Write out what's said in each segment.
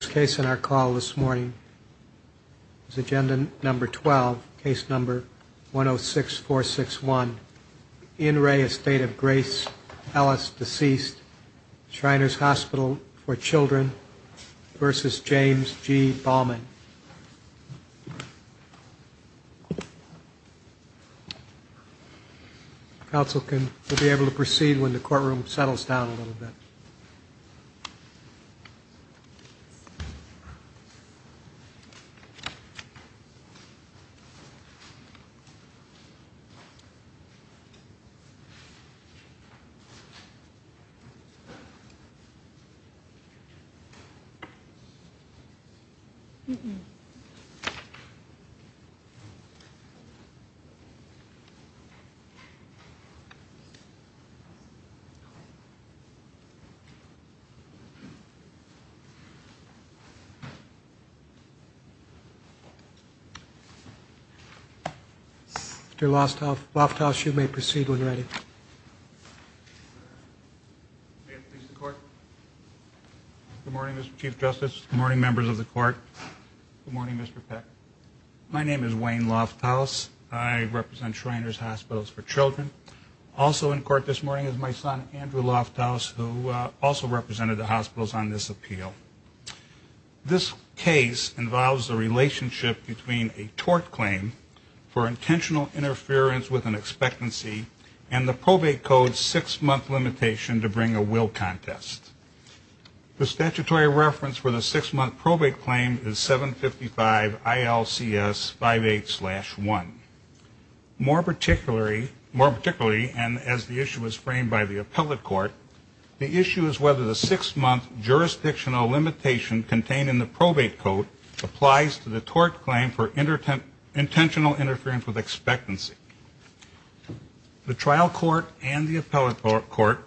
Case in our call this morning. Agenda number 12 case number 106461. In re Estate of Grace Ellis deceased Shriners Hospital for Children versus James G. Ballman. Counsel can be able to proceed when the courtroom settles down a little bit. Counsel can be able to proceed when the courtroom settles down a little bit. Good morning Mr. Chief Justice, good morning members of the court, good morning Mr. Peck. My name is Wayne Lofthouse, I represent Shriners Hospitals for Children. Also in court this morning is my son Andrew Lofthouse who also represented the hospitals on this appeal. This case involves the relationship between a tort claim for intentional interference with an expectancy and the probate code six month limitation to bring a will contest. The statutory reference for the six month probate claim is 755 ILCS 58 slash 1. More particularly and as the issue was framed by the appellate court, the issue is whether the six month jurisdictional limitation contained in the probate code applies to the tort claim for intentional interference with expectancy. The trial court and the appellate court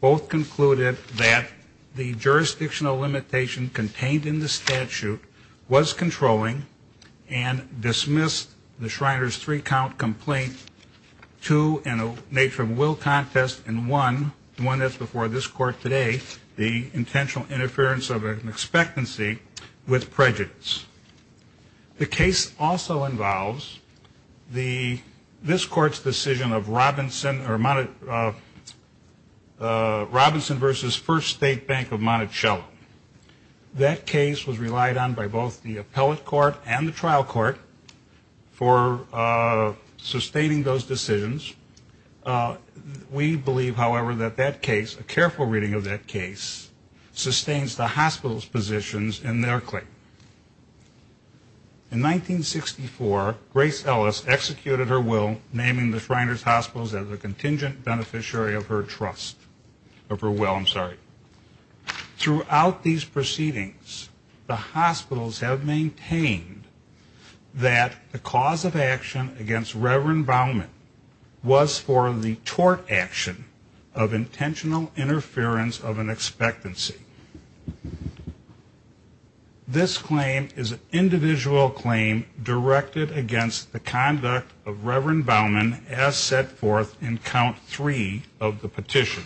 both concluded that the jurisdictional limitation contained in the statute was controlling and dismissed the Shriners three count complaint two in a nature of will contest and one, the one that's before this court today, the intentional interference of an expectancy with prejudice. The case also involves this court's decision of Robinson versus First State Bank of Monticello. That case was relied on by both the appellate court and the trial court for sustaining those decisions. We believe, however, that that case, a careful reading of that case, sustains the hospital's positions in their claim. In 1964, Grace Ellis executed her will naming the Shriners Hospitals as a contingent beneficiary of her trust, of her will, I'm sorry. Throughout these proceedings, the hospitals have maintained that the cause of action against Reverend Baumann was for the tort action of intentional interference of an expectancy. This claim is an individual claim directed against the conduct of Reverend Baumann as set forth in count three of the petition.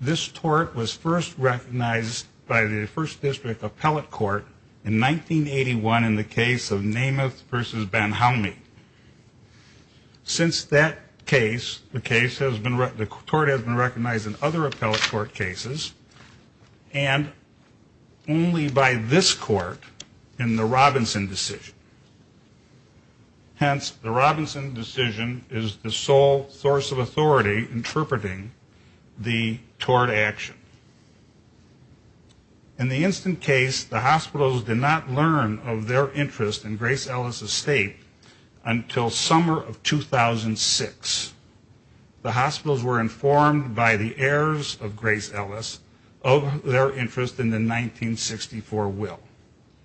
This tort was first recognized by the First District Appellate Court in 1981 in the case of Namath versus Banhaumi. Since that case, the case has been, the tort has been recognized in other appellate court cases, and only by this court in the Robinson decision. Hence, the Robinson decision is the sole source of authority interpreting the tort action. In the instant case, the hospitals did not learn of their interest in Grace Ellis' estate until summer of 2006. The hospitals were informed by the heirs of Grace Ellis of their interest in the 1964 will.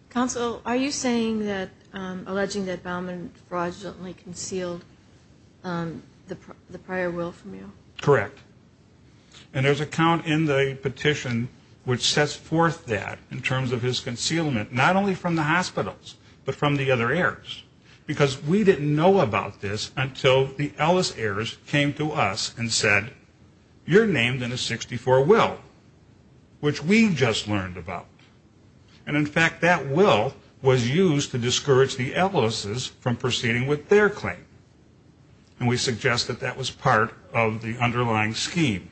Counsel, are you saying that, alleging that Baumann fraudulently concealed the prior will from you? Correct. And there's a count in the petition which sets forth that in terms of his concealment, not only from the hospitals, but from the other heirs. Because we didn't know about this until the Ellis heirs came to us and said, you're named in a 64 will, which we just learned about. And in fact, that will was used to discourage the Ellis' from proceeding with their claim. And we suggest that that was part of the underlying scheme.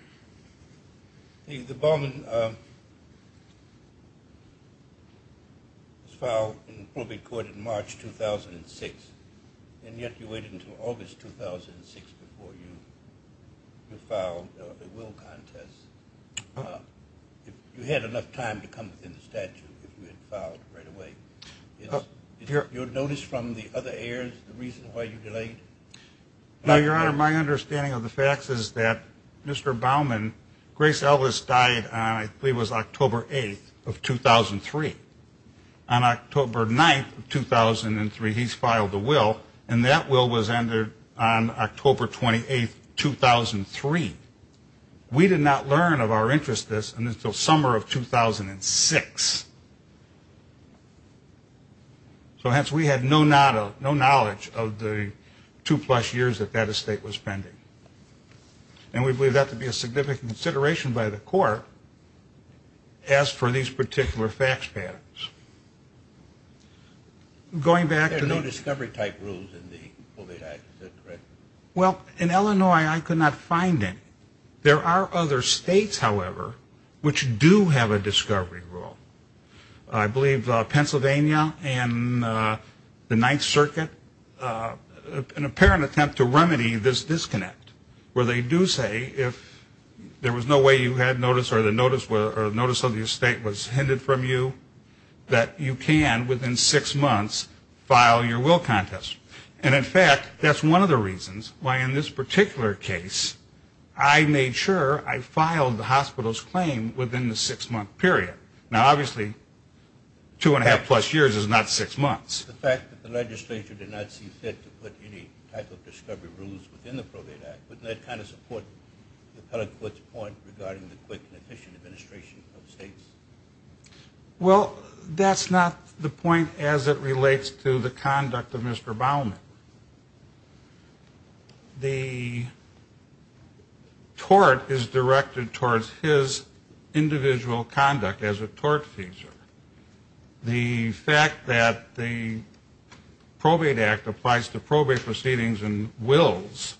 The Baumann was filed in the probate court in March 2006, and yet you waited until August 2006 before you filed the will contest. You had enough time to come within the statute if you had filed right away. Is your notice from the other heirs the reason why you delayed? Now, Your Honor, my understanding of the facts is that Mr. Baumann, Grace Ellis died on, I believe it was October 8th of 2003. On October 9th of 2003, he's filed the will, and that will was ended on October 28th, 2003. We did not learn of our interest in this until summer of 2006. So hence, we had no knowledge of the two-plus years that that estate was pending. And we believe that to be a significant consideration by the court as for these particular facts patterns. Going back to the... There are no discovery-type rules in the probate act, is that correct? Well, in Illinois, I could not find any. There are other states, however, which do have a discovery rule. I believe Pennsylvania and the Ninth Circuit, an apparent attempt to remedy this disconnect, where they do say if there was no way you had notice or the notice of the estate was hindered from you, that you can, within six months, file your will contest. And, in fact, that's one of the reasons why, in this particular case, I made sure I filed the hospital's claim within the six-month period. Now, obviously, two-and-a-half-plus years is not six months. The fact that the legislature did not see fit to put any type of discovery rules within the probate act, wouldn't that kind of support the appellate court's point regarding the quick and efficient administration of states? Well, that's not the point as it relates to the conduct of Mr. Baumann. The tort is directed towards his individual conduct as a tortfeasor. The fact that the probate act applies to probate proceedings and wills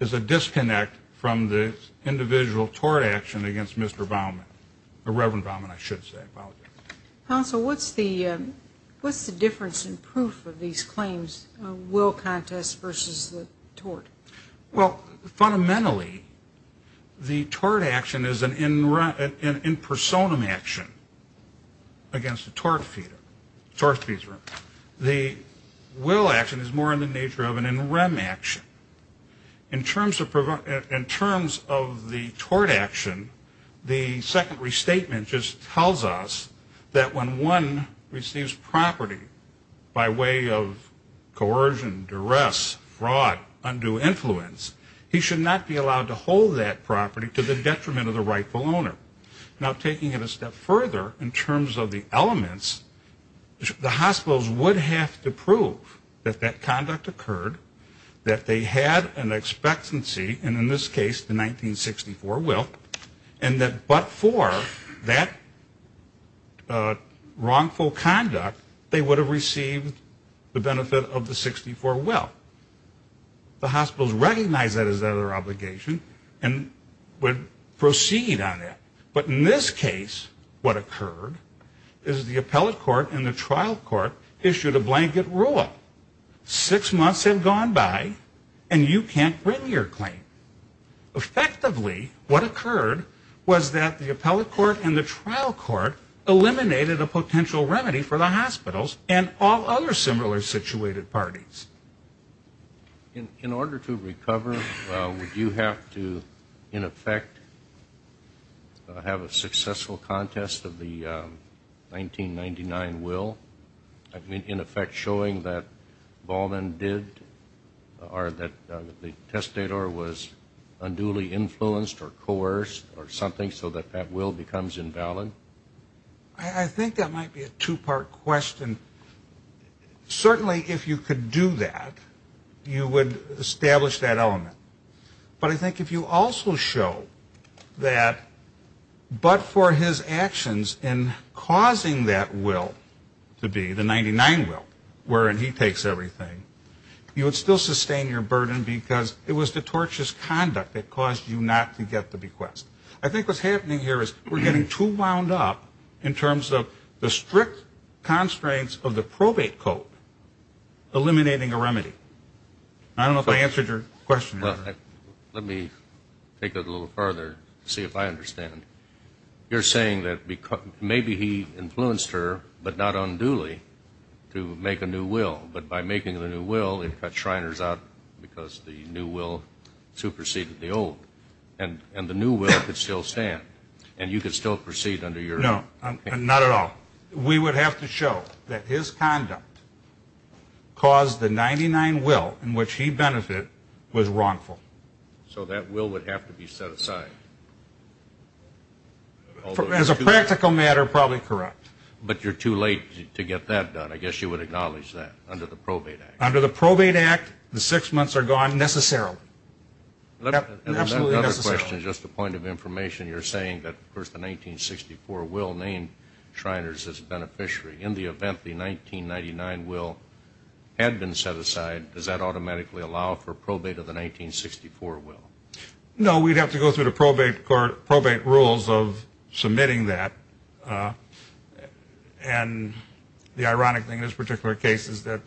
is a disconnect from the individual tort action against Mr. Baumann, or Reverend Baumann, I should say. I apologize. Counsel, what's the difference in proof of these claims, will contest versus the tort? Well, fundamentally, the tort action is an in personam action against a tortfeasor. The will action is more in the nature of an in rem action. In terms of the tort action, the second restatement just tells us that when one receives property by way of coercion, duress, fraud, undue influence, he should not be allowed to hold that property to the detriment of the rightful owner. Now, taking it a step further, in terms of the elements, the hospitals would have to prove that that conduct occurred, that they had an expectancy, and in this case, the 1964 will, and that but for that wrongful conduct, they would have received the benefit of the 64 will. The hospitals recognize that as their obligation and would proceed on that. But in this case, what occurred is the appellate court and the trial court issued a blanket rule. Six months had gone by and you can't bring your claim. Effectively, what occurred was that the appellate court and the trial court eliminated a potential remedy for the hospitals and all other similarly situated parties. In order to recover, would you have to, in effect, have a successful contest of the 1999 will, in effect showing that Baughman did, or that the testator was unduly influenced or coerced or something, so that that will becomes invalid? I think that might be a two-part question. Certainly, if you could do that, you would establish that element. But I think if you also show that but for his actions in causing that will to be, the 99 will, wherein he takes everything, you would still sustain your burden because it was the tortious conduct that caused you not to get the bequest. I think what's happening here is we're getting too wound up in terms of the strict constraints of the probate code eliminating a remedy. I don't know if I answered your question. Let me take it a little farther to see if I understand. You're saying that maybe he influenced her, but not unduly, to make a new will. But by making the new will, it cut Shriners out because the new will superseded the old. And the new will could still stand. And you could still proceed under your... No, not at all. We would have to show that his conduct caused the 99 will in which he benefited was wrongful. So that will would have to be set aside. As a practical matter, probably correct. But you're too late to get that done. I guess you would acknowledge that under the probate act. Under the probate act, the six months are gone necessarily. Another question, just a point of information. You're saying that, of course, the 1964 will named Shriners as a beneficiary. In the event the 1999 will had been set aside, does that automatically allow for probate of the 1964 will? No, we'd have to go through the probate rules of submitting that. And the ironic thing in this particular case is that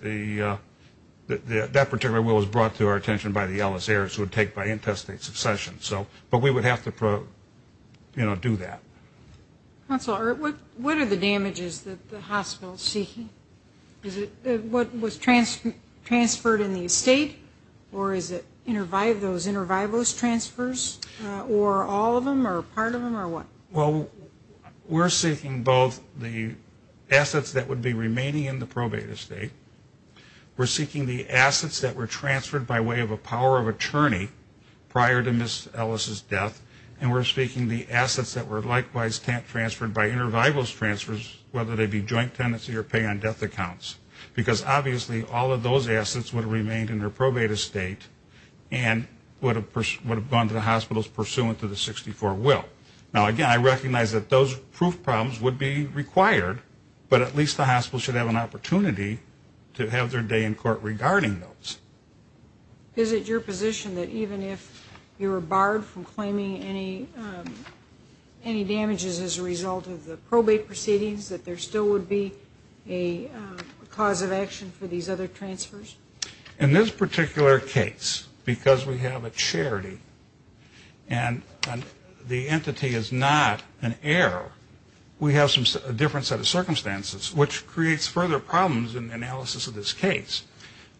that particular will was brought to our attention by the LSAers who would take by intestate succession. But we would have to do that. Counsel, what are the damages that the hospital is seeking? Is it what was transferred in the estate? Or is it those inter vivos transfers? Or all of them, or part of them, or what? Well, we're seeking both the assets that would be remaining in the probate estate. We're seeking the assets that were transferred by way of a power of attorney prior to Ms. Ellis' death. And we're seeking the assets that were likewise transferred by inter vivos transfers, whether they be joint tenancy or pay on death accounts. Because obviously all of those assets would have remained in her probate estate and would have gone to the hospitals pursuant to the 1964 will. Now, again, I recognize that those proof problems would be required, but at least the hospital should have an opportunity to have their day in court regarding those. Is it your position that even if you were barred from claiming any damages as a result of the probate proceedings, that there still would be a cause of action for these other transfers? In this particular case, because we have a charity and the entity is not an heir, we have a different set of circumstances, which creates further problems in the analysis of this case.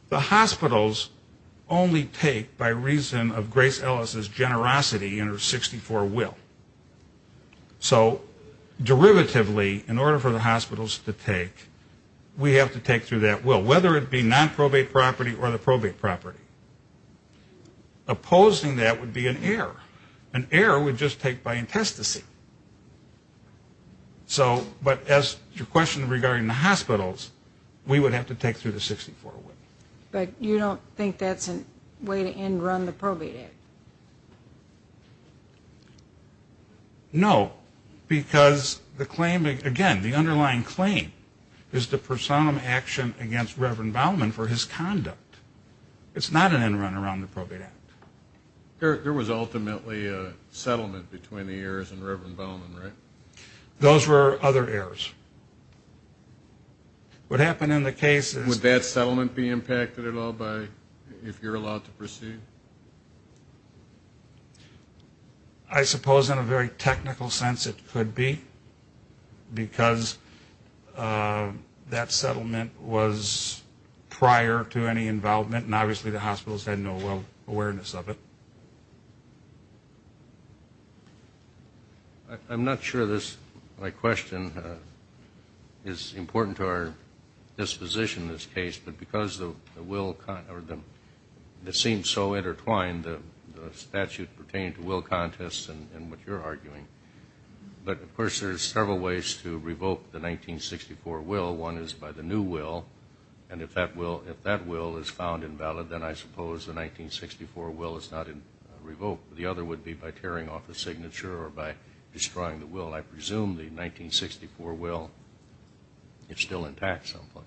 The hospitals only take by reason of Grace Ellis' generosity in her 1964 will. So derivatively, in order for the hospitals to take, we have to take through that will. Whether it be nonprobate property or the probate property. Opposing that would be an error. An error would just take by intestacy. But as to your question regarding the hospitals, we would have to take through the 1964 will. But you don't think that's a way to end run the probate act? No, because the claim, again, the underlying claim, is the personam action against Reverend Bauman for his conduct. It's not an end run around the probate act. There was ultimately a settlement between the heirs and Reverend Bauman, right? Those were other heirs. What happened in the case is... Would that settlement be impacted at all by, if you're allowed to proceed? I suppose in a very technical sense it could be, because that settlement was prior to any involvement, and obviously the hospitals had no awareness of it. I'm not sure this, my question, is important to our disposition in this case, but because the will seems so intertwined, the statute pertaining to will contests and what you're arguing, but of course there's several ways to revoke the 1964 will. One is by the new will, and if that will is found invalid, then I suppose the 1964 will is not revoked. The other would be by tearing off the signature or by destroying the will. I presume the 1964 will is still intact someplace.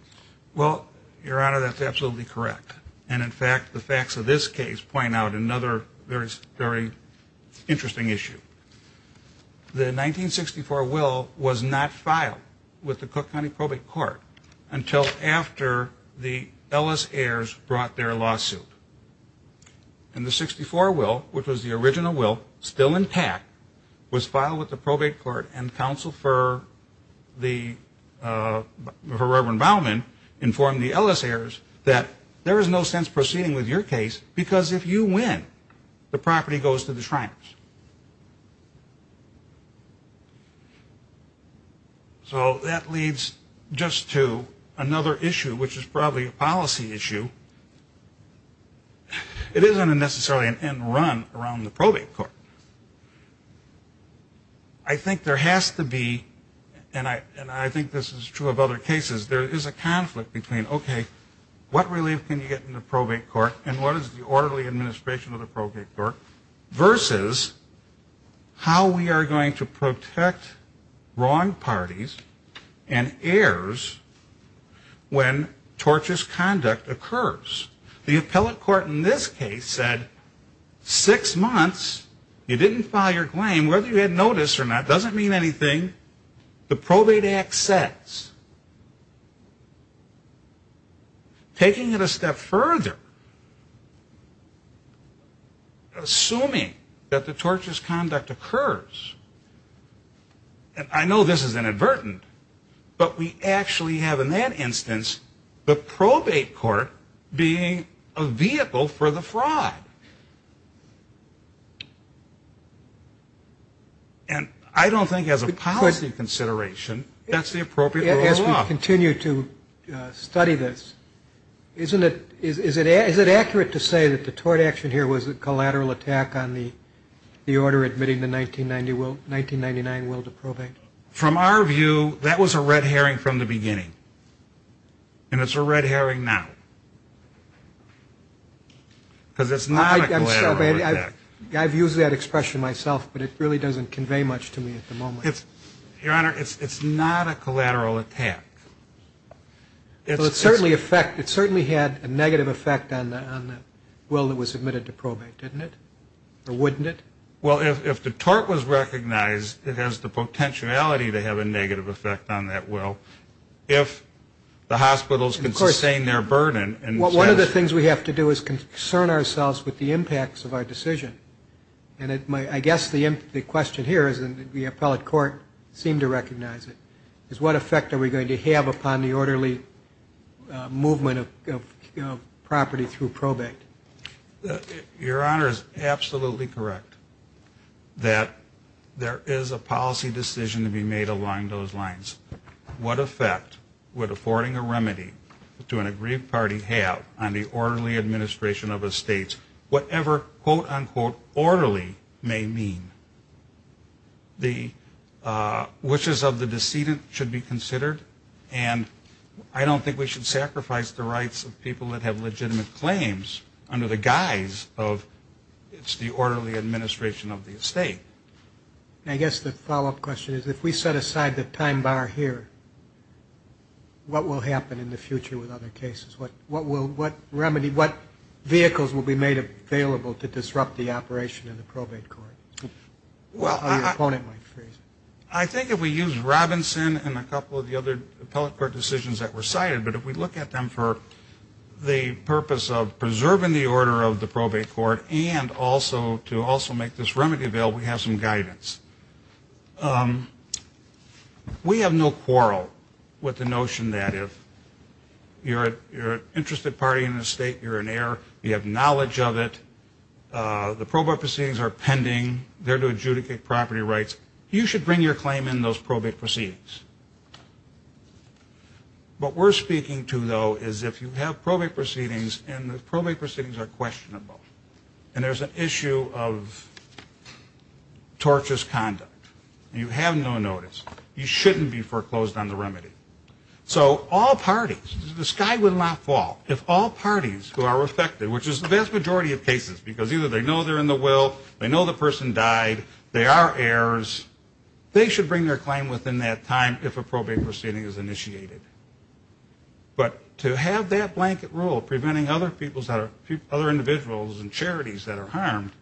Well, Your Honor, that's absolutely correct, and in fact the facts of this case point out another very interesting issue. The 1964 will was not filed with the Cook County Probate Court until after the Ellis heirs brought their lawsuit. And the 64 will, which was the original will, still intact, was filed with the Probate Court, and counsel for Reverend Baumann informed the Ellis heirs that there is no sense proceeding with your case, because if you win, the property goes to the Shriners. So that leads just to another issue, which is probably a policy issue. It isn't necessarily an end run around the Probate Court. I think there has to be, and I think this is true of other cases, there is a conflict between, okay, what relief can you get in the Probate Court, and what is the orderly administration of the Probate Court, versus how we are going to protect wrong parties and heirs when torturous conduct occurs. The Appellate Court in this case said six months, you didn't file your claim, whether you had notice or not doesn't mean anything. The Probate Act says. Taking it a step further, assuming that the torturous conduct occurs, and I know this is inadvertent, but we actually have in that instance, the Probate Court being a vehicle for the fraud. And I don't think as a policy consideration, that's the appropriate rule of law. As we continue to study this, is it accurate to say that the tort action here was a collateral attack on the order admitting the 1999 will to probate? From our view, that was a red herring from the beginning. And it's a red herring now. Because it's not a collateral attack. I've used that expression myself, but it really doesn't convey much to me at the moment. Your Honor, it's not a collateral attack. It certainly had a negative effect on the will that was admitted to probate, didn't it? Or wouldn't it? Well, if the tort was recognized, it has the potentiality to have a negative effect on that will. If the hospitals can sustain their burden. One of the things we have to do is concern ourselves with the impacts of our decision. And I guess the question here is, and the Appellate Court seemed to recognize it, is what effect are we going to have upon the orderly movement of property through probate? Your Honor is absolutely correct that there is a policy decision to be made along those lines. What effect would affording a remedy to an agreed party have on the orderly administration of estates? Whatever, quote, unquote, orderly may mean. The wishes of the decedent should be considered. And I don't think we should sacrifice the rights of people that have legitimate claims under the guise of it's the orderly administration of the estate. I guess the follow-up question is, if we set aside the time bar here, what will happen in the future with other cases? What will, what remedy, what vehicles will be made available to disrupt the operation of the probate court? How your opponent might phrase it. I think if we use Robinson and a couple of the other Appellate Court decisions that were cited, but if we look at them for the purpose of preserving the order of the probate court and also to also make this remedy available, we have some guidance. We have no quarrel with the notion that if you're an interested party in an estate, you're an heir, you have knowledge of it, the probate proceedings are pending, they're to adjudicate property rights, you should bring your claim in those probate proceedings. What we're speaking to, though, is if you have probate proceedings and the probate proceedings are questionable, and there's an issue of tortious conduct, and you have no notice, you shouldn't be foreclosed on the remedy. So all parties, the sky would not fall if all parties who are affected, which is the vast majority of cases, because either they know they're in the will, they know the person died, they are heirs, they should bring their claim within that time if a probate proceeding is initiated. But to have that blanket rule preventing other individuals and charities that are harmed,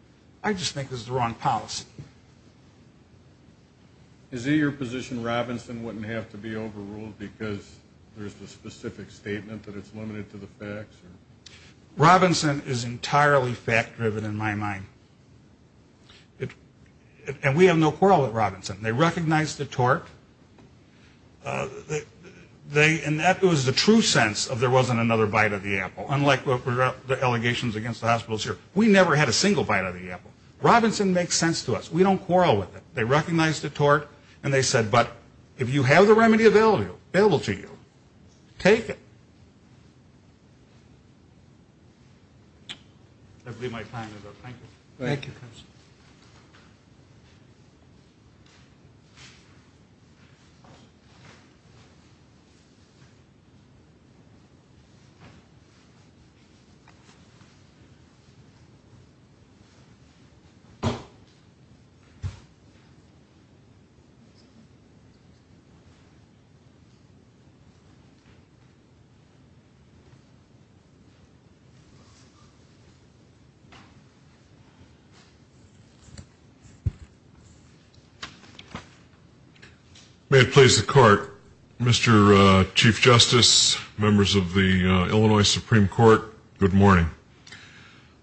I just think is the wrong policy. Is it your position Robinson wouldn't have to be overruled because there's the specific statement that it's limited to the facts? Robinson is entirely fact-driven in my mind. And we have no quarrel with Robinson. They recognized the tort. And that was the true sense of there wasn't another bite of the apple, unlike the allegations against the hospitals here. We never had a single bite of the apple. Robinson makes sense to us. We don't quarrel with it. They recognized the tort, and they said, but if you have the remedy available to you, take it. That will be my time. Thank you. May it please the Court. Mr. Chief Justice, members of the Illinois Supreme Court, good morning.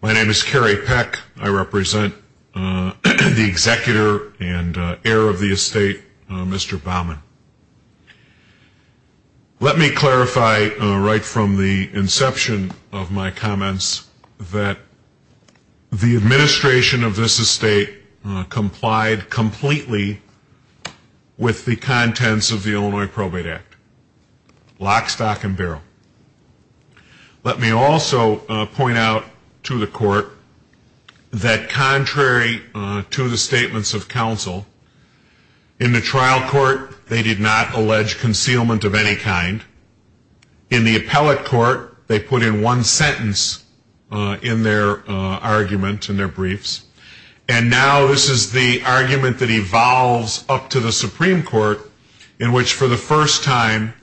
My name is Kerry Peck. I represent the executor and heir of the estate, Mr. Baumann. Let me clarify right from the inception of my comments that the administration of this estate complied completely with the contents of the Illinois Probate Act, lock, stock, and barrel. Let me also point out to the Court that contrary to the statements of counsel, in the trial court they did not allege concealment of any kind. In the appellate court they put in one sentence in their argument, in their briefs. And now this is the argument that evolves up to the Supreme Court, in which for the first time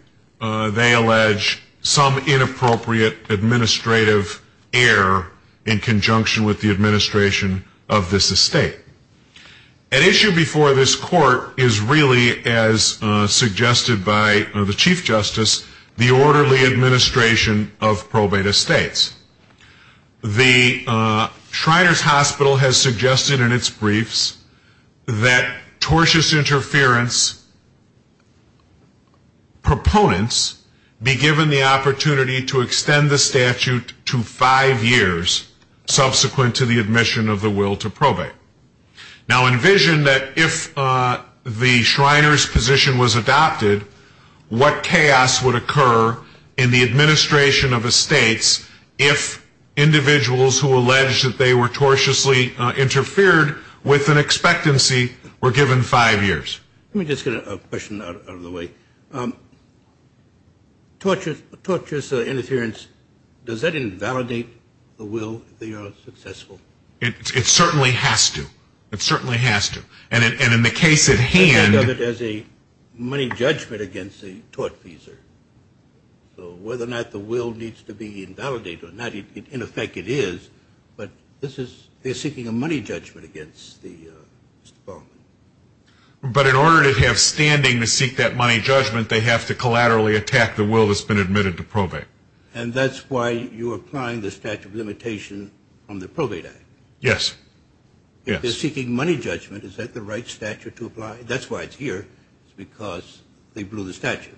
they allege some inappropriate administrative error in conjunction with the administration of this estate. An issue before this Court is really, as suggested by the Chief Justice, the orderly administration of probate estates. The Shriners Hospital has suggested in its briefs that tortious interference proponents be given the opportunity to extend the statute to five years subsequent to the admission of the will to probate. Now envision that if the Shriners position was adopted, what chaos would occur in the administration of estates if individuals who allege that they were tortiously interfered with an expectancy were given five years. Let me just get a question out of the way. Tortious interference, does that invalidate the will if they are successful? It certainly has to. It certainly has to. And in the case at hand of it as a money judgment against a tortfeasor. So whether or not the will needs to be invalidated or not, in effect it is. But this is seeking a money judgment against the department. But in order to have standing to seek that money judgment, they have to collaterally attack the will that's been admitted to probate. And that's why you're applying the statute of limitation on the Probate Act? Yes. If they're seeking money judgment, is that the right statute to apply? That's why it's here, because they blew the statute.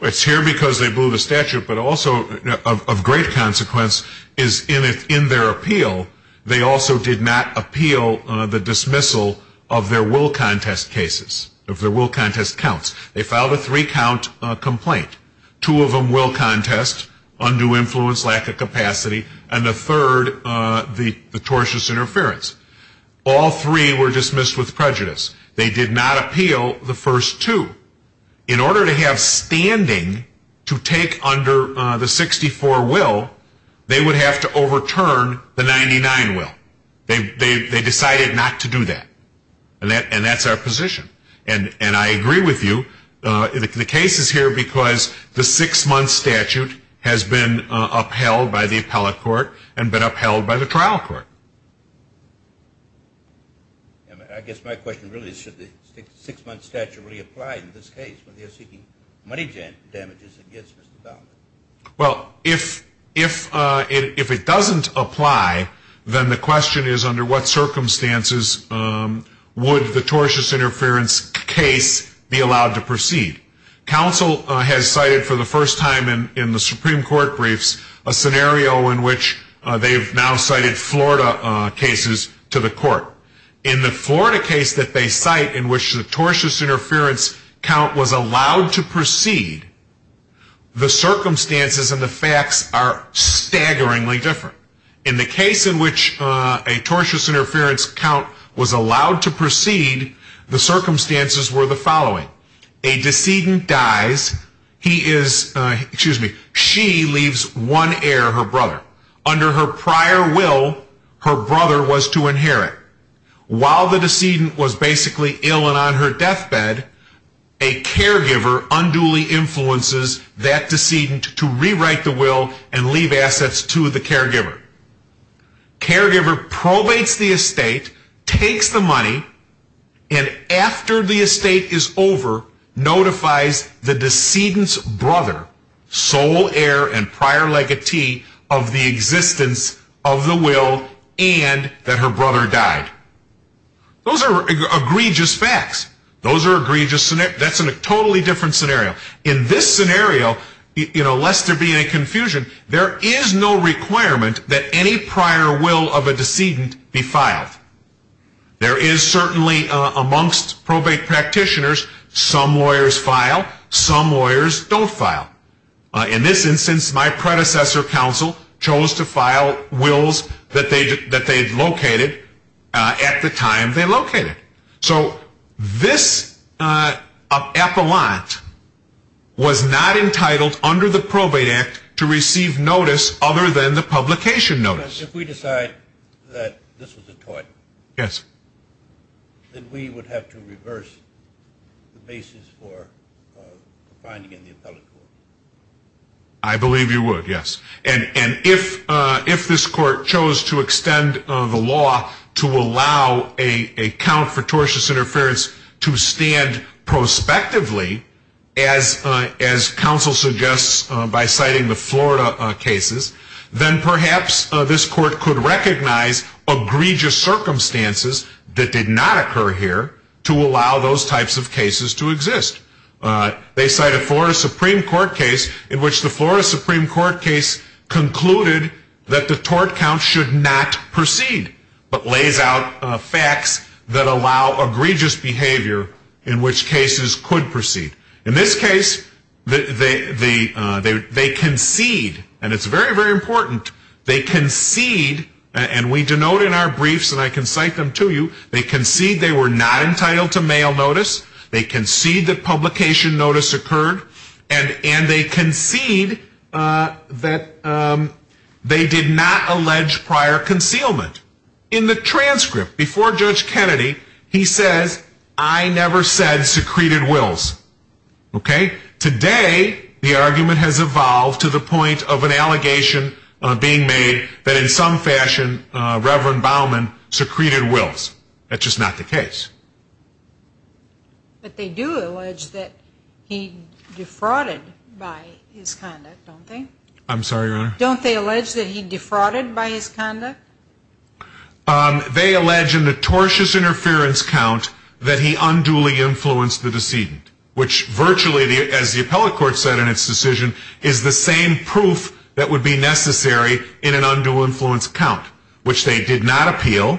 It's here because they blew the statute, but also of great consequence is in their appeal, they also did not appeal the dismissal of their will contest cases, of their will contest counts. They filed a three-count complaint. Two of them will contest, undue influence, lack of capacity. And the third, the tortious interference. All three were dismissed with prejudice. They did not appeal the first two. In order to have standing to take under the 64 will, they would have to overturn the 99 will. They decided not to do that. And that's our position. And I agree with you. The case is here because the six-month statute has been upheld by the appellate court and been upheld by the trial court. I guess my question really is should the six-month statute really apply in this case when they're seeking money damages against Mr. Baumann? Well, if it doesn't apply, then the question is under what circumstances would the tortious interference case be allowed to proceed? Counsel has cited for the first time in the Supreme Court briefs a scenario in which they've now cited Florida cases to the court. In the Florida case that they cite in which the tortious interference count was allowed to proceed, the circumstances and the facts are staggeringly different. In the case in which a tortious interference count was allowed to proceed, the circumstances were the following. A decedent dies. He is, excuse me, she leaves one heir, her brother. Under her prior will, her brother was to inherit. While the decedent was basically ill and on her deathbed, a caregiver unduly influences that decedent to rewrite the will and leave assets to the caregiver. Caregiver probates the estate, takes the money, and after the estate is over, notifies the decedent's brother, sole heir and prior legatee of the existence of the will and that her brother died. Those are egregious facts. Those are egregious scenarios. That's a totally different scenario. In this scenario, you know, lest there be any confusion, there is no requirement that any prior will of a decedent be filed. There is certainly amongst probate practitioners, some lawyers file, some lawyers don't file. In this instance, my predecessor counsel chose to file wills that they had located at the time they located. So this appellant was not entitled under the Probate Act to receive notice other than the publication notice. If we decide that this was a tort, then we would have to reverse the basis for finding in the appellate court. I believe you would, yes. And if this court chose to extend the law to allow a count for tortious interference to stand prospectively, as counsel suggests by citing the Florida cases, then perhaps this court could recognize egregious circumstances that did not occur here to allow those types of cases to exist. They cite a Florida Supreme Court case in which the Florida Supreme Court case concluded that the tort count should not proceed, but lays out facts that allow egregious behavior in which cases could proceed. In this case, they concede, and it's very, very important, they concede, and we denote in our briefs and I can cite them to you, they concede they were not entitled to mail notice, they concede that publication notice occurred, and they concede that they did not allege prior concealment. In the transcript before Judge Kennedy, he says, I never said secreted wills. Today, the argument has evolved to the point of an allegation being made that in some fashion, Reverend Baumann secreted wills. That's just not the case. But they do allege that he defrauded by his conduct, don't they? I'm sorry, Your Honor. Don't they allege that he defrauded by his conduct? They allege in the tortious interference count that he unduly influenced the decedent, which virtually, as the appellate court said in its decision, is the same proof that would be necessary in an undue influence count, which they did not appeal.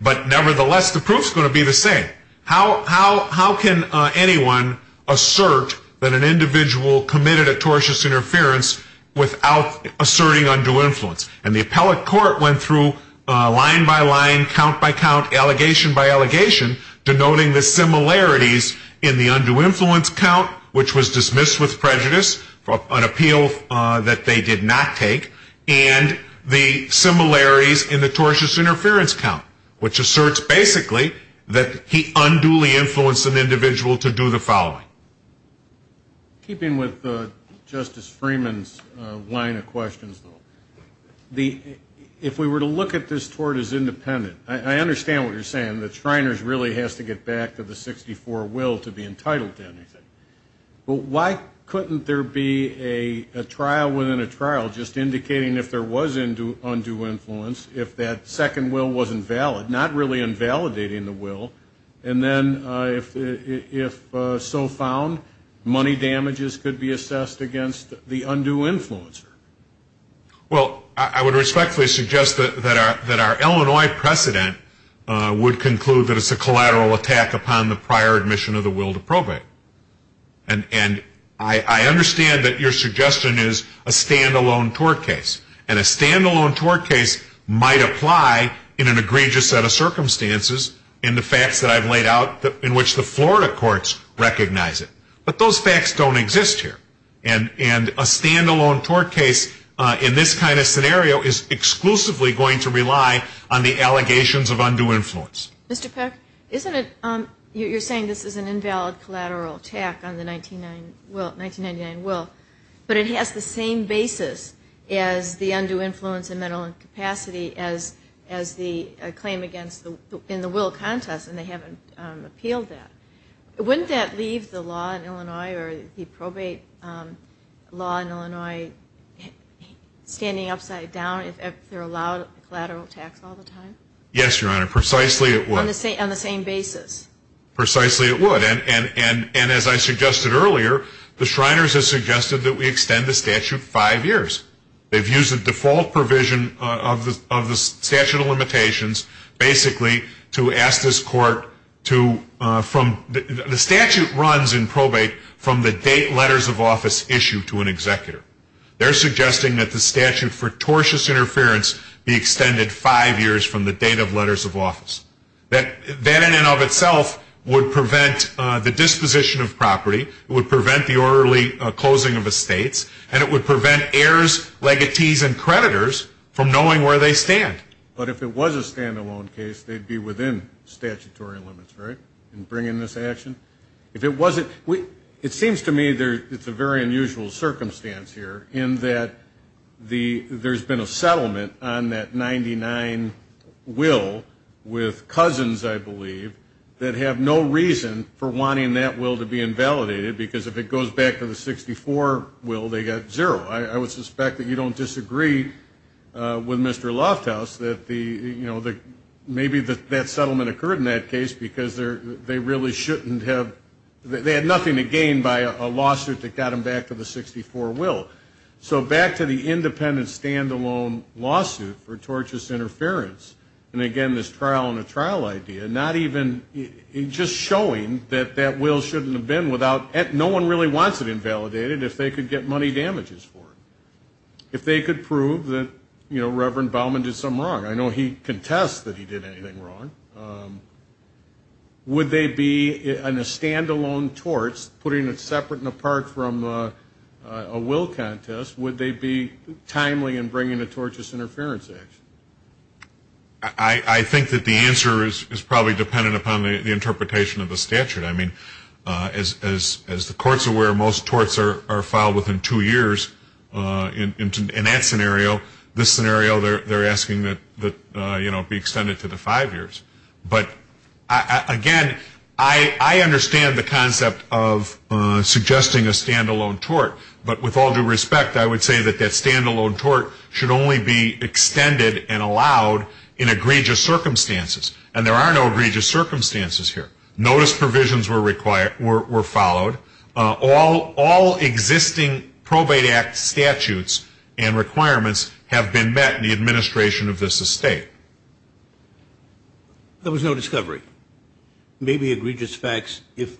But nevertheless, the proof's going to be the same. How can anyone assert that an individual committed a tortious interference without asserting undue influence? And the appellate court went through line by line, count by count, allegation by allegation, denoting the similarities in the undue influence count, which was dismissed with prejudice, an appeal that they did not take, and the similarities in the tortious interference count, which asserts basically that he unduly influenced an individual to do the following. Keeping with Justice Freeman's line of questions, though, if we were to look at this tort as independent, I understand what you're saying, that Shriners really has to get back to the 64 will to be entitled to anything. But why couldn't there be a trial within a trial just indicating if there was undue influence, if that second will wasn't valid, not really invalidating the will, and then if so found, money damages could be assessed against the undue influencer? Well, I would respectfully suggest that our Illinois precedent would conclude that it's a collateral attack upon the prior admission of the will to probate. And I understand that your suggestion is a stand-alone tort case, and a stand-alone tort case might apply in an egregious set of circumstances in the facts that I've laid out in which the Florida courts recognize it. But those facts don't exist here. And a stand-alone tort case in this kind of scenario is exclusively going to rely on the allegations of undue influence. Mr. Peck, you're saying this is an invalid collateral attack on the 1999 will, but it has the same basis as the undue influence and mental incapacity as the claim in the will contest, and they haven't appealed that. Wouldn't that leave the law in Illinois or the probate law in Illinois standing upside down if they're allowed collateral attacks all the time? Yes, Your Honor, precisely it would. On the same basis? Precisely it would. And as I suggested earlier, the Shriners have suggested that we extend the statute five years. They've used the default provision of the statute of limitations basically to ask this court to, the statute runs in probate from the date letters of office issued to an executor. They're suggesting that the statute for tortious interference be extended five years from the date of letters of office. That in and of itself would prevent the disposition of property, it would prevent the orderly closing of estates, and it would prevent heirs, legatees, and creditors from knowing where they stand. But if it was a stand-alone case, they'd be within statutory limits, right, in bringing this action? If it wasn't, it seems to me it's a very unusual circumstance here in that there's been a settlement on that 99 will with cousins, I believe, that have no reason for wanting that will to be invalidated, because if it goes back to the 64 will, they get zero. I would suspect that you don't disagree with Mr. Lofthouse that maybe that settlement occurred in that case because they really shouldn't have, they had nothing to gain by a lawsuit that got them back to the 64 will. So back to the independent stand-alone lawsuit for tortious interference, and again this trial on a trial idea, not even, just showing that that will shouldn't have been without, no one really wants it invalidated if they could get money damages for it. If they could prove that, you know, Reverend Baumann did something wrong, I know he contests that he did anything wrong, would they be in a stand-alone torts, putting it separate and apart from a will contest, would they be timely in bringing a tortious interference action? I think that the answer is probably dependent upon the interpretation of the statute. I mean, as the courts are aware, most torts are filed within two years. In that scenario, this scenario, they're asking that, you know, it be extended to the five years. But again, I understand the concept of suggesting a stand-alone tort, but with all due respect, I would say that that stand-alone tort should only be extended and allowed in egregious circumstances, and there are no egregious circumstances here. All existing probate act statutes and requirements have been met in the administration of this estate. There was no discovery. Maybe egregious facts, if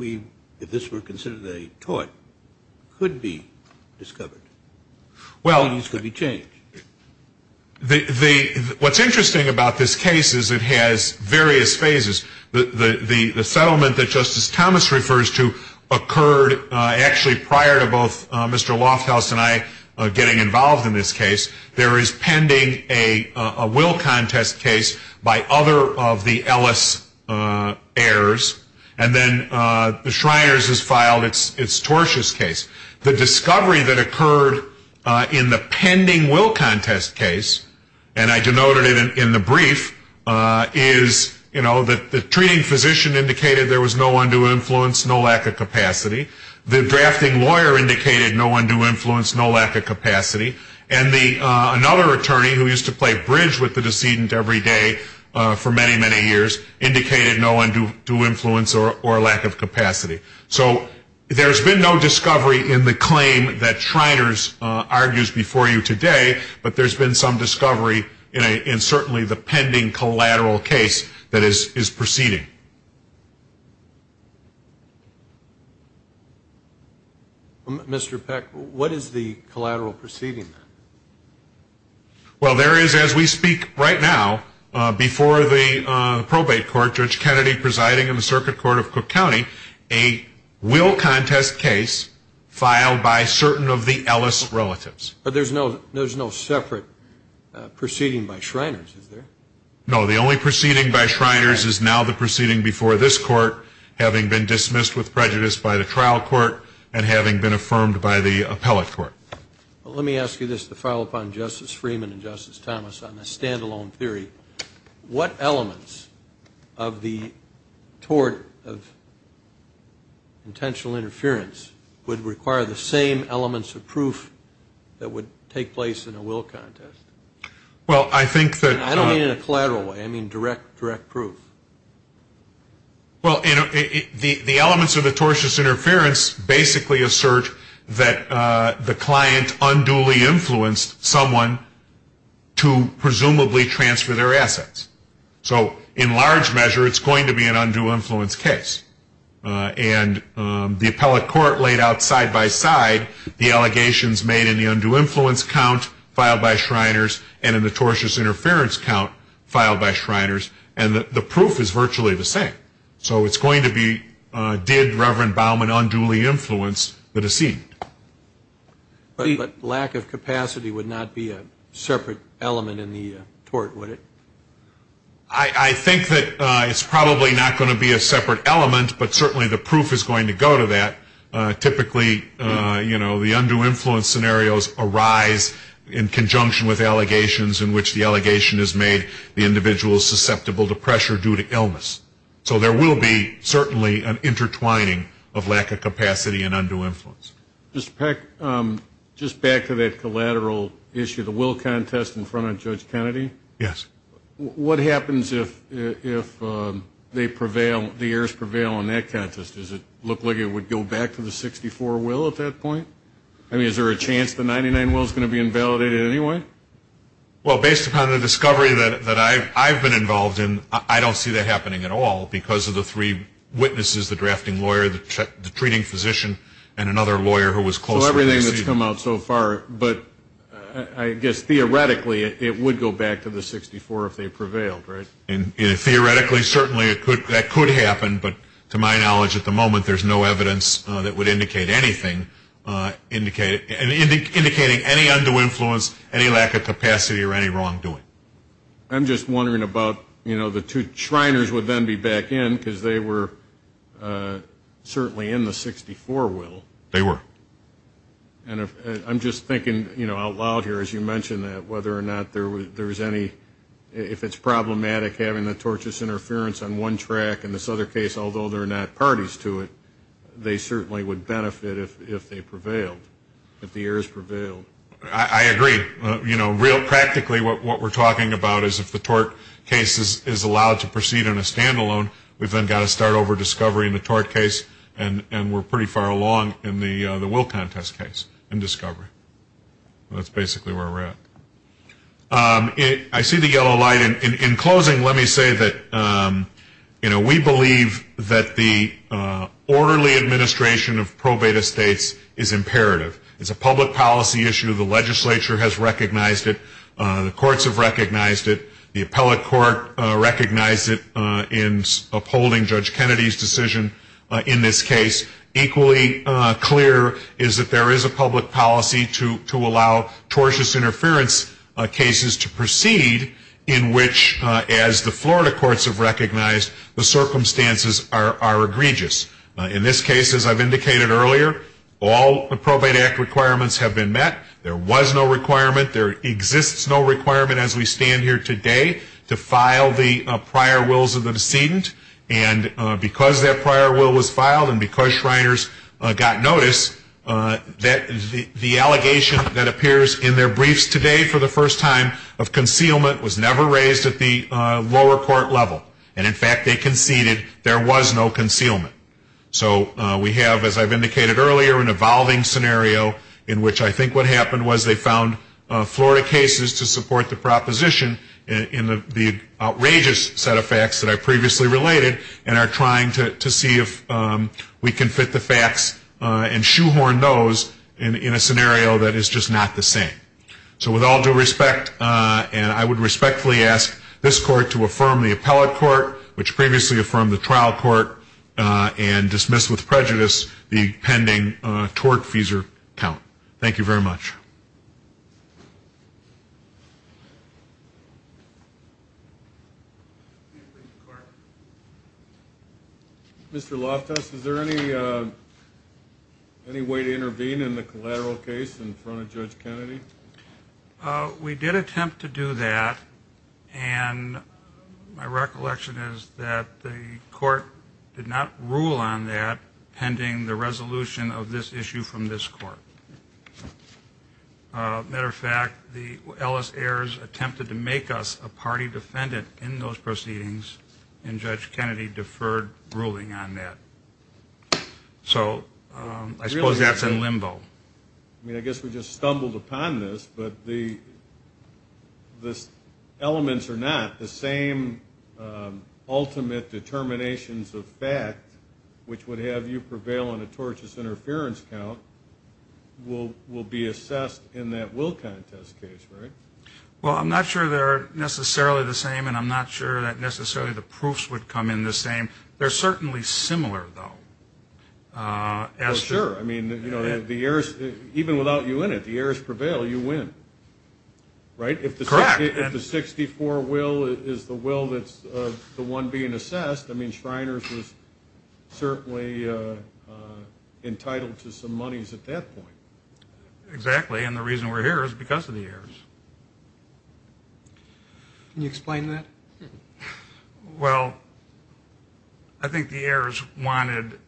this were considered a tort, could be discovered. Well, what's interesting about this case is it has various phases. The settlement that Justice Thomas refers to occurred actually prior to both Mr. Lofthouse and I getting involved in this case. There is pending a will contest case by other of the Ellis heirs, and then the Shriners has filed its tortious case. The discovery that occurred in the pending will contest case, and I denoted it in the brief, is, you know, the treating physician indicated there was no undue influence, no lack of capacity. The drafting lawyer indicated no undue influence, no lack of capacity. And another attorney, who used to play bridge with the decedent every day for many, many years, indicated no undue influence or lack of capacity. So there's been no discovery in the claim that Shriners argues before you today, but there's been some discovery in certainly the pending collateral case that is proceeding. Mr. Peck, what is the collateral proceeding? Well, there is, as we speak right now, before the probate court, Judge Kennedy presiding in the Circuit Court of Cook County, a will contest case filed by certain of the Ellis relatives. But there's no separate proceeding by Shriners, is there? No. The only proceeding by Shriners is now the proceeding before this court, having been dismissed with prejudice by the trial court and having been affirmed by the appellate court. Well, let me ask you this to follow up on Justice Freeman and Justice Thomas on the stand-alone theory. What elements of the tort of intentional interference would require the same elements of proof that would take place in a will contest? I don't mean in a collateral way. I mean direct proof. Well, the elements of the tortious interference basically assert that the client unduly influenced someone to presumably transfer their assets. So in large measure, it's going to be an undue influence case. And the appellate court laid out side-by-side the allegations made in the undue influence count filed by Shriners and in the tortious interference count filed by Shriners, and the proof is virtually the same. So it's going to be, did Reverend Bauman unduly influence the deceit? But lack of capacity would not be a separate element in the tort, would it? I think that it's probably not going to be a separate element, but certainly the proof is going to go to that. Typically, you know, the undue influence scenarios arise in conjunction with allegations in which the allegation is made the individual is susceptible to pressure due to illness. So there will be certainly an intertwining of lack of capacity and undue influence. Mr. Peck, just back to that collateral issue, the will contest in front of Judge Kennedy. Yes. What happens if they prevail, the heirs prevail on that contest? Does it look like it would go back to the 64 will at that point? I mean, is there a chance the 99 will is going to be invalidated anyway? Well, based upon the discovery that I've been involved in, I don't see that happening at all because of the three witnesses, the drafting lawyer, the treating physician, and another lawyer who was closer to the deceit. So everything that's come out so far, but I guess theoretically it would go back to the 64 if they prevailed, right? Theoretically, certainly that could happen, but to my knowledge at the moment there's no evidence that would indicate anything indicating any undue influence, any lack of capacity, or any wrongdoing. I'm just wondering about, you know, the two Shriners would then be back in because they were certainly in the 64 will. They were. And I'm just thinking, you know, out loud here as you mentioned that, whether or not there was any, if it's problematic having the tortious interference on one track, in this other case, although there are not parties to it, they certainly would benefit if they prevailed, if the errors prevailed. I agree. You know, real practically what we're talking about is if the tort case is allowed to proceed in a standalone, we've then got to start over discovery in the tort case, and we're pretty far along in the will contest case in discovery. That's basically where we're at. I see the yellow light. In closing, let me say that, you know, we believe that the orderly administration of probate estates is imperative. It's a public policy issue. The legislature has recognized it. The courts have recognized it. The appellate court recognized it in upholding Judge Kennedy's decision in this case. Equally clear is that there is a public policy to allow tortious interference cases to proceed in which, as the Florida courts have recognized, the circumstances are egregious. In this case, as I've indicated earlier, all probate act requirements have been met. There was no requirement. There exists no requirement as we stand here today to file the prior wills of the decedent. And because that prior will was filed and because Shriners got notice, the allegation that appears in their briefs today for the first time of concealment was never raised at the lower court level. And, in fact, they conceded there was no concealment. So we have, as I've indicated earlier, an evolving scenario in which I think what happened was they found Florida cases to support the proposition in the outrageous set of facts that I previously related and are trying to see if we can fit the facts and shoehorn those in a scenario that is just not the same. So with all due respect, and I would respectfully ask this court to affirm the appellate court, which previously affirmed the trial court, and dismiss with prejudice the pending tort-feasor count. Thank you very much. Mr. Loftus, is there any way to intervene in the collateral case in front of Judge Kennedy? We did attempt to do that, and my recollection is that the court did not rule on that pending the resolution of this issue from this court. As a matter of fact, the Ellis heirs attempted to make us a party defendant in those proceedings, and Judge Kennedy deferred ruling on that. So I suppose that's in limbo. I mean, I guess we just stumbled upon this, but the elements are not the same ultimate determinations of fact, which would have you prevail on a tortious interference count, will be assessed in that Wilcott test case, right? Well, I'm not sure they're necessarily the same, and I'm not sure that necessarily the proofs would come in the same. They're certainly similar, though. Well, sure. I mean, even without you in it, the heirs prevail. You win, right? Correct. If the 64 will is the will that's the one being assessed, I mean, Shriners was certainly entitled to some monies at that point. Exactly, and the reason we're here is because of the heirs. Can you explain that? Well, I think the heirs wanted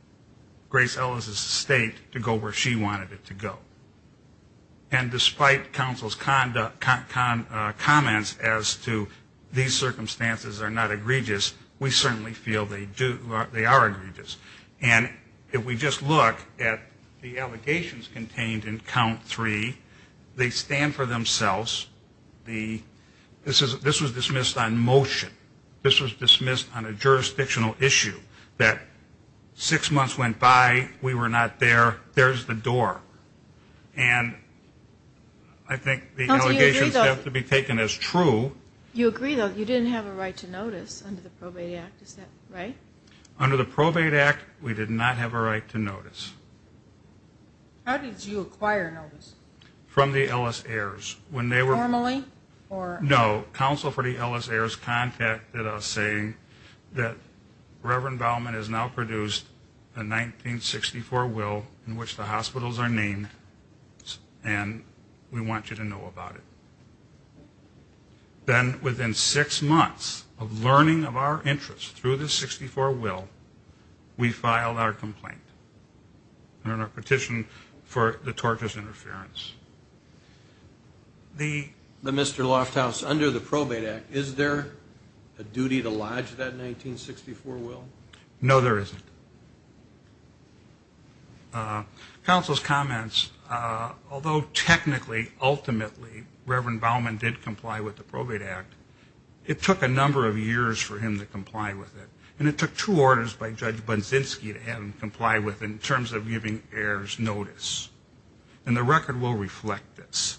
Grace Ellis' estate to go where she wanted it to go. And despite counsel's comments as to these circumstances are not egregious, we certainly feel they are egregious. And if we just look at the allegations contained in count three, they stand for themselves. This was dismissed on motion. This was dismissed on a jurisdictional issue that six months went by, we were not there, there's the door. And I think the allegations have to be taken as true. You agree, though, you didn't have a right to notice under the Probate Act, is that right? Under the Probate Act, we did not have a right to notice. How did you acquire notice? From the Ellis heirs. Normally? No, counsel for the Ellis heirs contacted us saying that Reverend Baumann has now produced a 1964 will in which the hospitals are named and we want you to know about it. Then within six months of learning of our interests through the 64 will, we filed our complaint. And our petition for the tortious interference. The Mr. Lofthouse under the Probate Act, is there a duty to lodge that 1964 will? No, there isn't. Counsel's comments, although technically, ultimately, Reverend Baumann did comply with the Probate Act, it took a number of years for him to comply with it. And it took two orders by Judge Budzinski to have him comply with in terms of giving heirs notice. And the record will reflect this.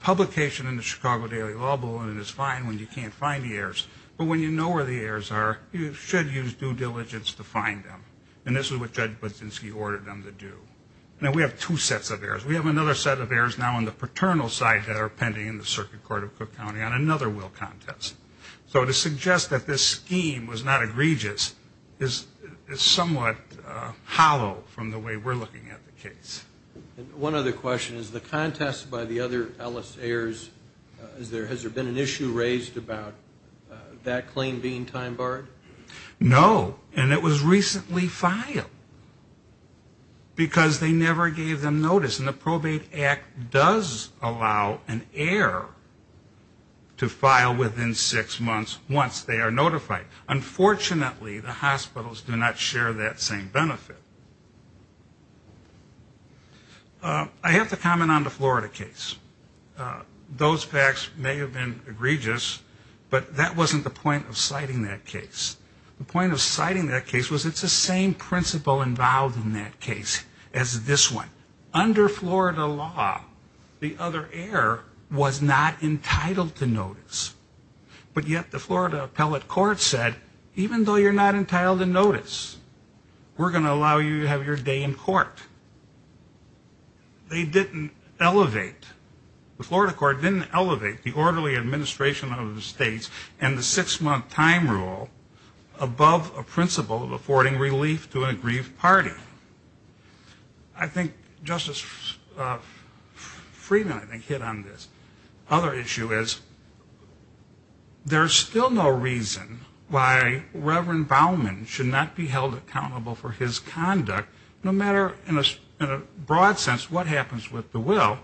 Publication in the Chicago Daily Law Bulletin is fine when you can't find the heirs, but when you know where the heirs are, you should use due diligence to find them. And this is what Judge Budzinski ordered them to do. Now, we have two sets of heirs. We have another set of heirs now on the paternal side that are pending in the Circuit Court of Cook County on another will contest. So to suggest that this scheme was not egregious is somewhat hollow from the way we're looking at the case. One other question. Is the contest by the other Ellis heirs, has there been an issue raised about that claim being time barred? No. And it was recently filed because they never gave them notice. And the Probate Act does allow an heir to file within six months once they are notified. Unfortunately, the hospitals do not share that same benefit. I have to comment on the Florida case. Those facts may have been egregious, but that wasn't the point of citing that case. The point of citing that case was it's the same principle involved in that case as this one. Under Florida law, the other heir was not entitled to notice. But yet the Florida Appellate Court said, even though you're not entitled to notice, we're going to allow you to have your day in court. They didn't elevate. The Florida court didn't elevate the orderly administration of the states and the six-month time rule above a principle of affording relief to an aggrieved party. I think Justice Friedman, I think, hit on this. The other issue is there's still no reason why Reverend Baumann should not be held accountable for his conduct, no matter in a broad sense what happens with the will,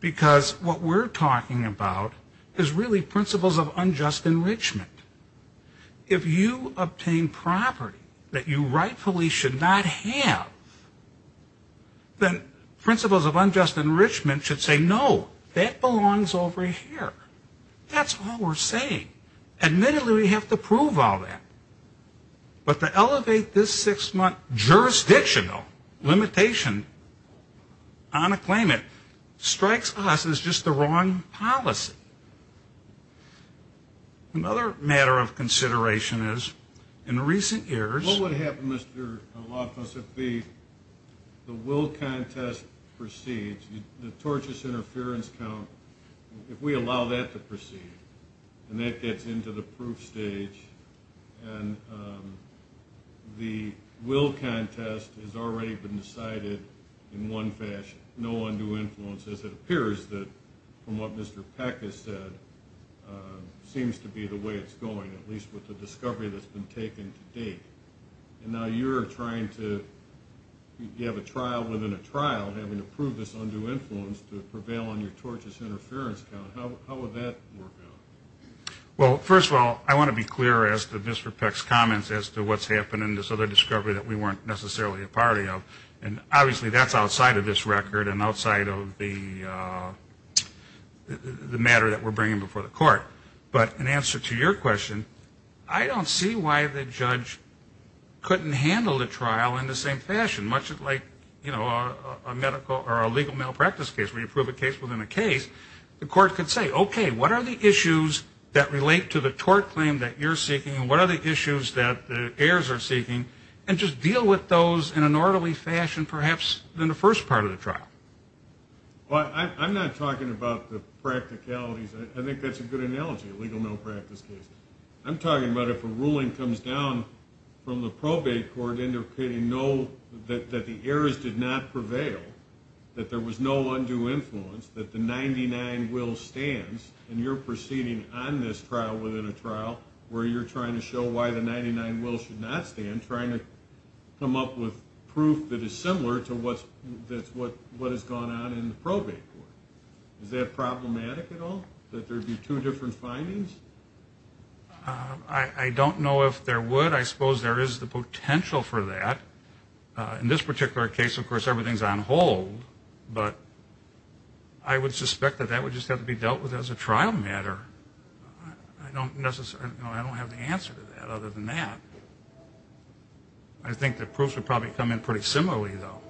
because what we're talking about is really principles of unjust enrichment. If you obtain property that you rightfully should not have, then principles of unjust enrichment should say, no, that belongs over here. That's all we're saying. Admittedly, we have to prove all that. But to elevate this six-month jurisdictional limitation on a claimant strikes us as just the wrong policy. Another matter of consideration is, in recent years... What would happen, Mr. Lawfus, if the will contest proceeds, the tortious interference count, if we allow that to proceed, and that gets into the proof stage, and the will contest has already been decided in one fashion. No undue influence, as it appears that, from what Mr. Peck has said, seems to be the way it's going, at least with the discovery that's been taken to date. And now you're trying to... You have a trial within a trial having to prove this undue influence to prevail on your tortious interference count. How would that work out? Well, first of all, I want to be clear as to Mr. Peck's comments as to what's happened in this other discovery that we weren't necessarily a party of. And obviously that's outside of this record and outside of the matter that we're bringing before the court. But in answer to your question, I don't see why the judge couldn't handle the trial in the same fashion, much like, you know, a medical or a legal malpractice case where you prove a case within a case. The court could say, okay, what are the issues that relate to the tort claim that you're seeking and what are the issues that the heirs are seeking, and just deal with those in an orderly fashion perhaps than the first part of the trial. Well, I'm not talking about the practicalities. I think that's a good analogy, a legal malpractice case. I'm talking about if a ruling comes down from the probate court indicating that the heirs did not prevail, that there was no undue influence, that the 99 will stands, and you're proceeding on this trial within a trial where you're trying to show why the 99 will should not stand, trying to come up with proof that is similar to what has gone on in the probate court. Is that problematic at all, that there would be two different findings? I don't know if there would. I suppose there is the potential for that. In this particular case, of course, everything is on hold, but I would suspect that that would just have to be dealt with as a trial matter. I don't have the answer to that other than that. I think the proof would probably come in pretty similarly, though.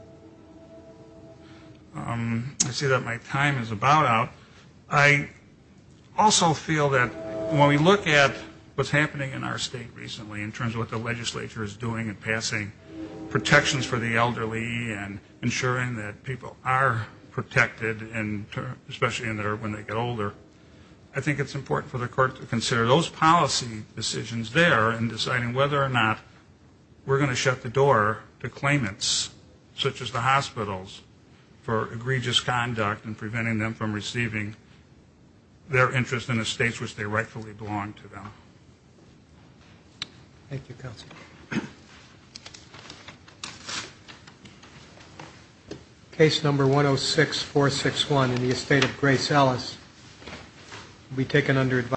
I see that my time is about out. I also feel that when we look at what's happening in our state recently in terms of what the legislature is doing and passing protections for the elderly and ensuring that people are protected, and especially when they get older, I think it's important for the court to consider those policy decisions there and deciding whether or not we're going to shut the door to claimants such as the hospitals for egregious conduct and preventing them from receiving their interest in the states which they rightfully belong to them. Thank you, Counselor. Case number 106461 in the estate of Grace Ellis will be taken under advisory.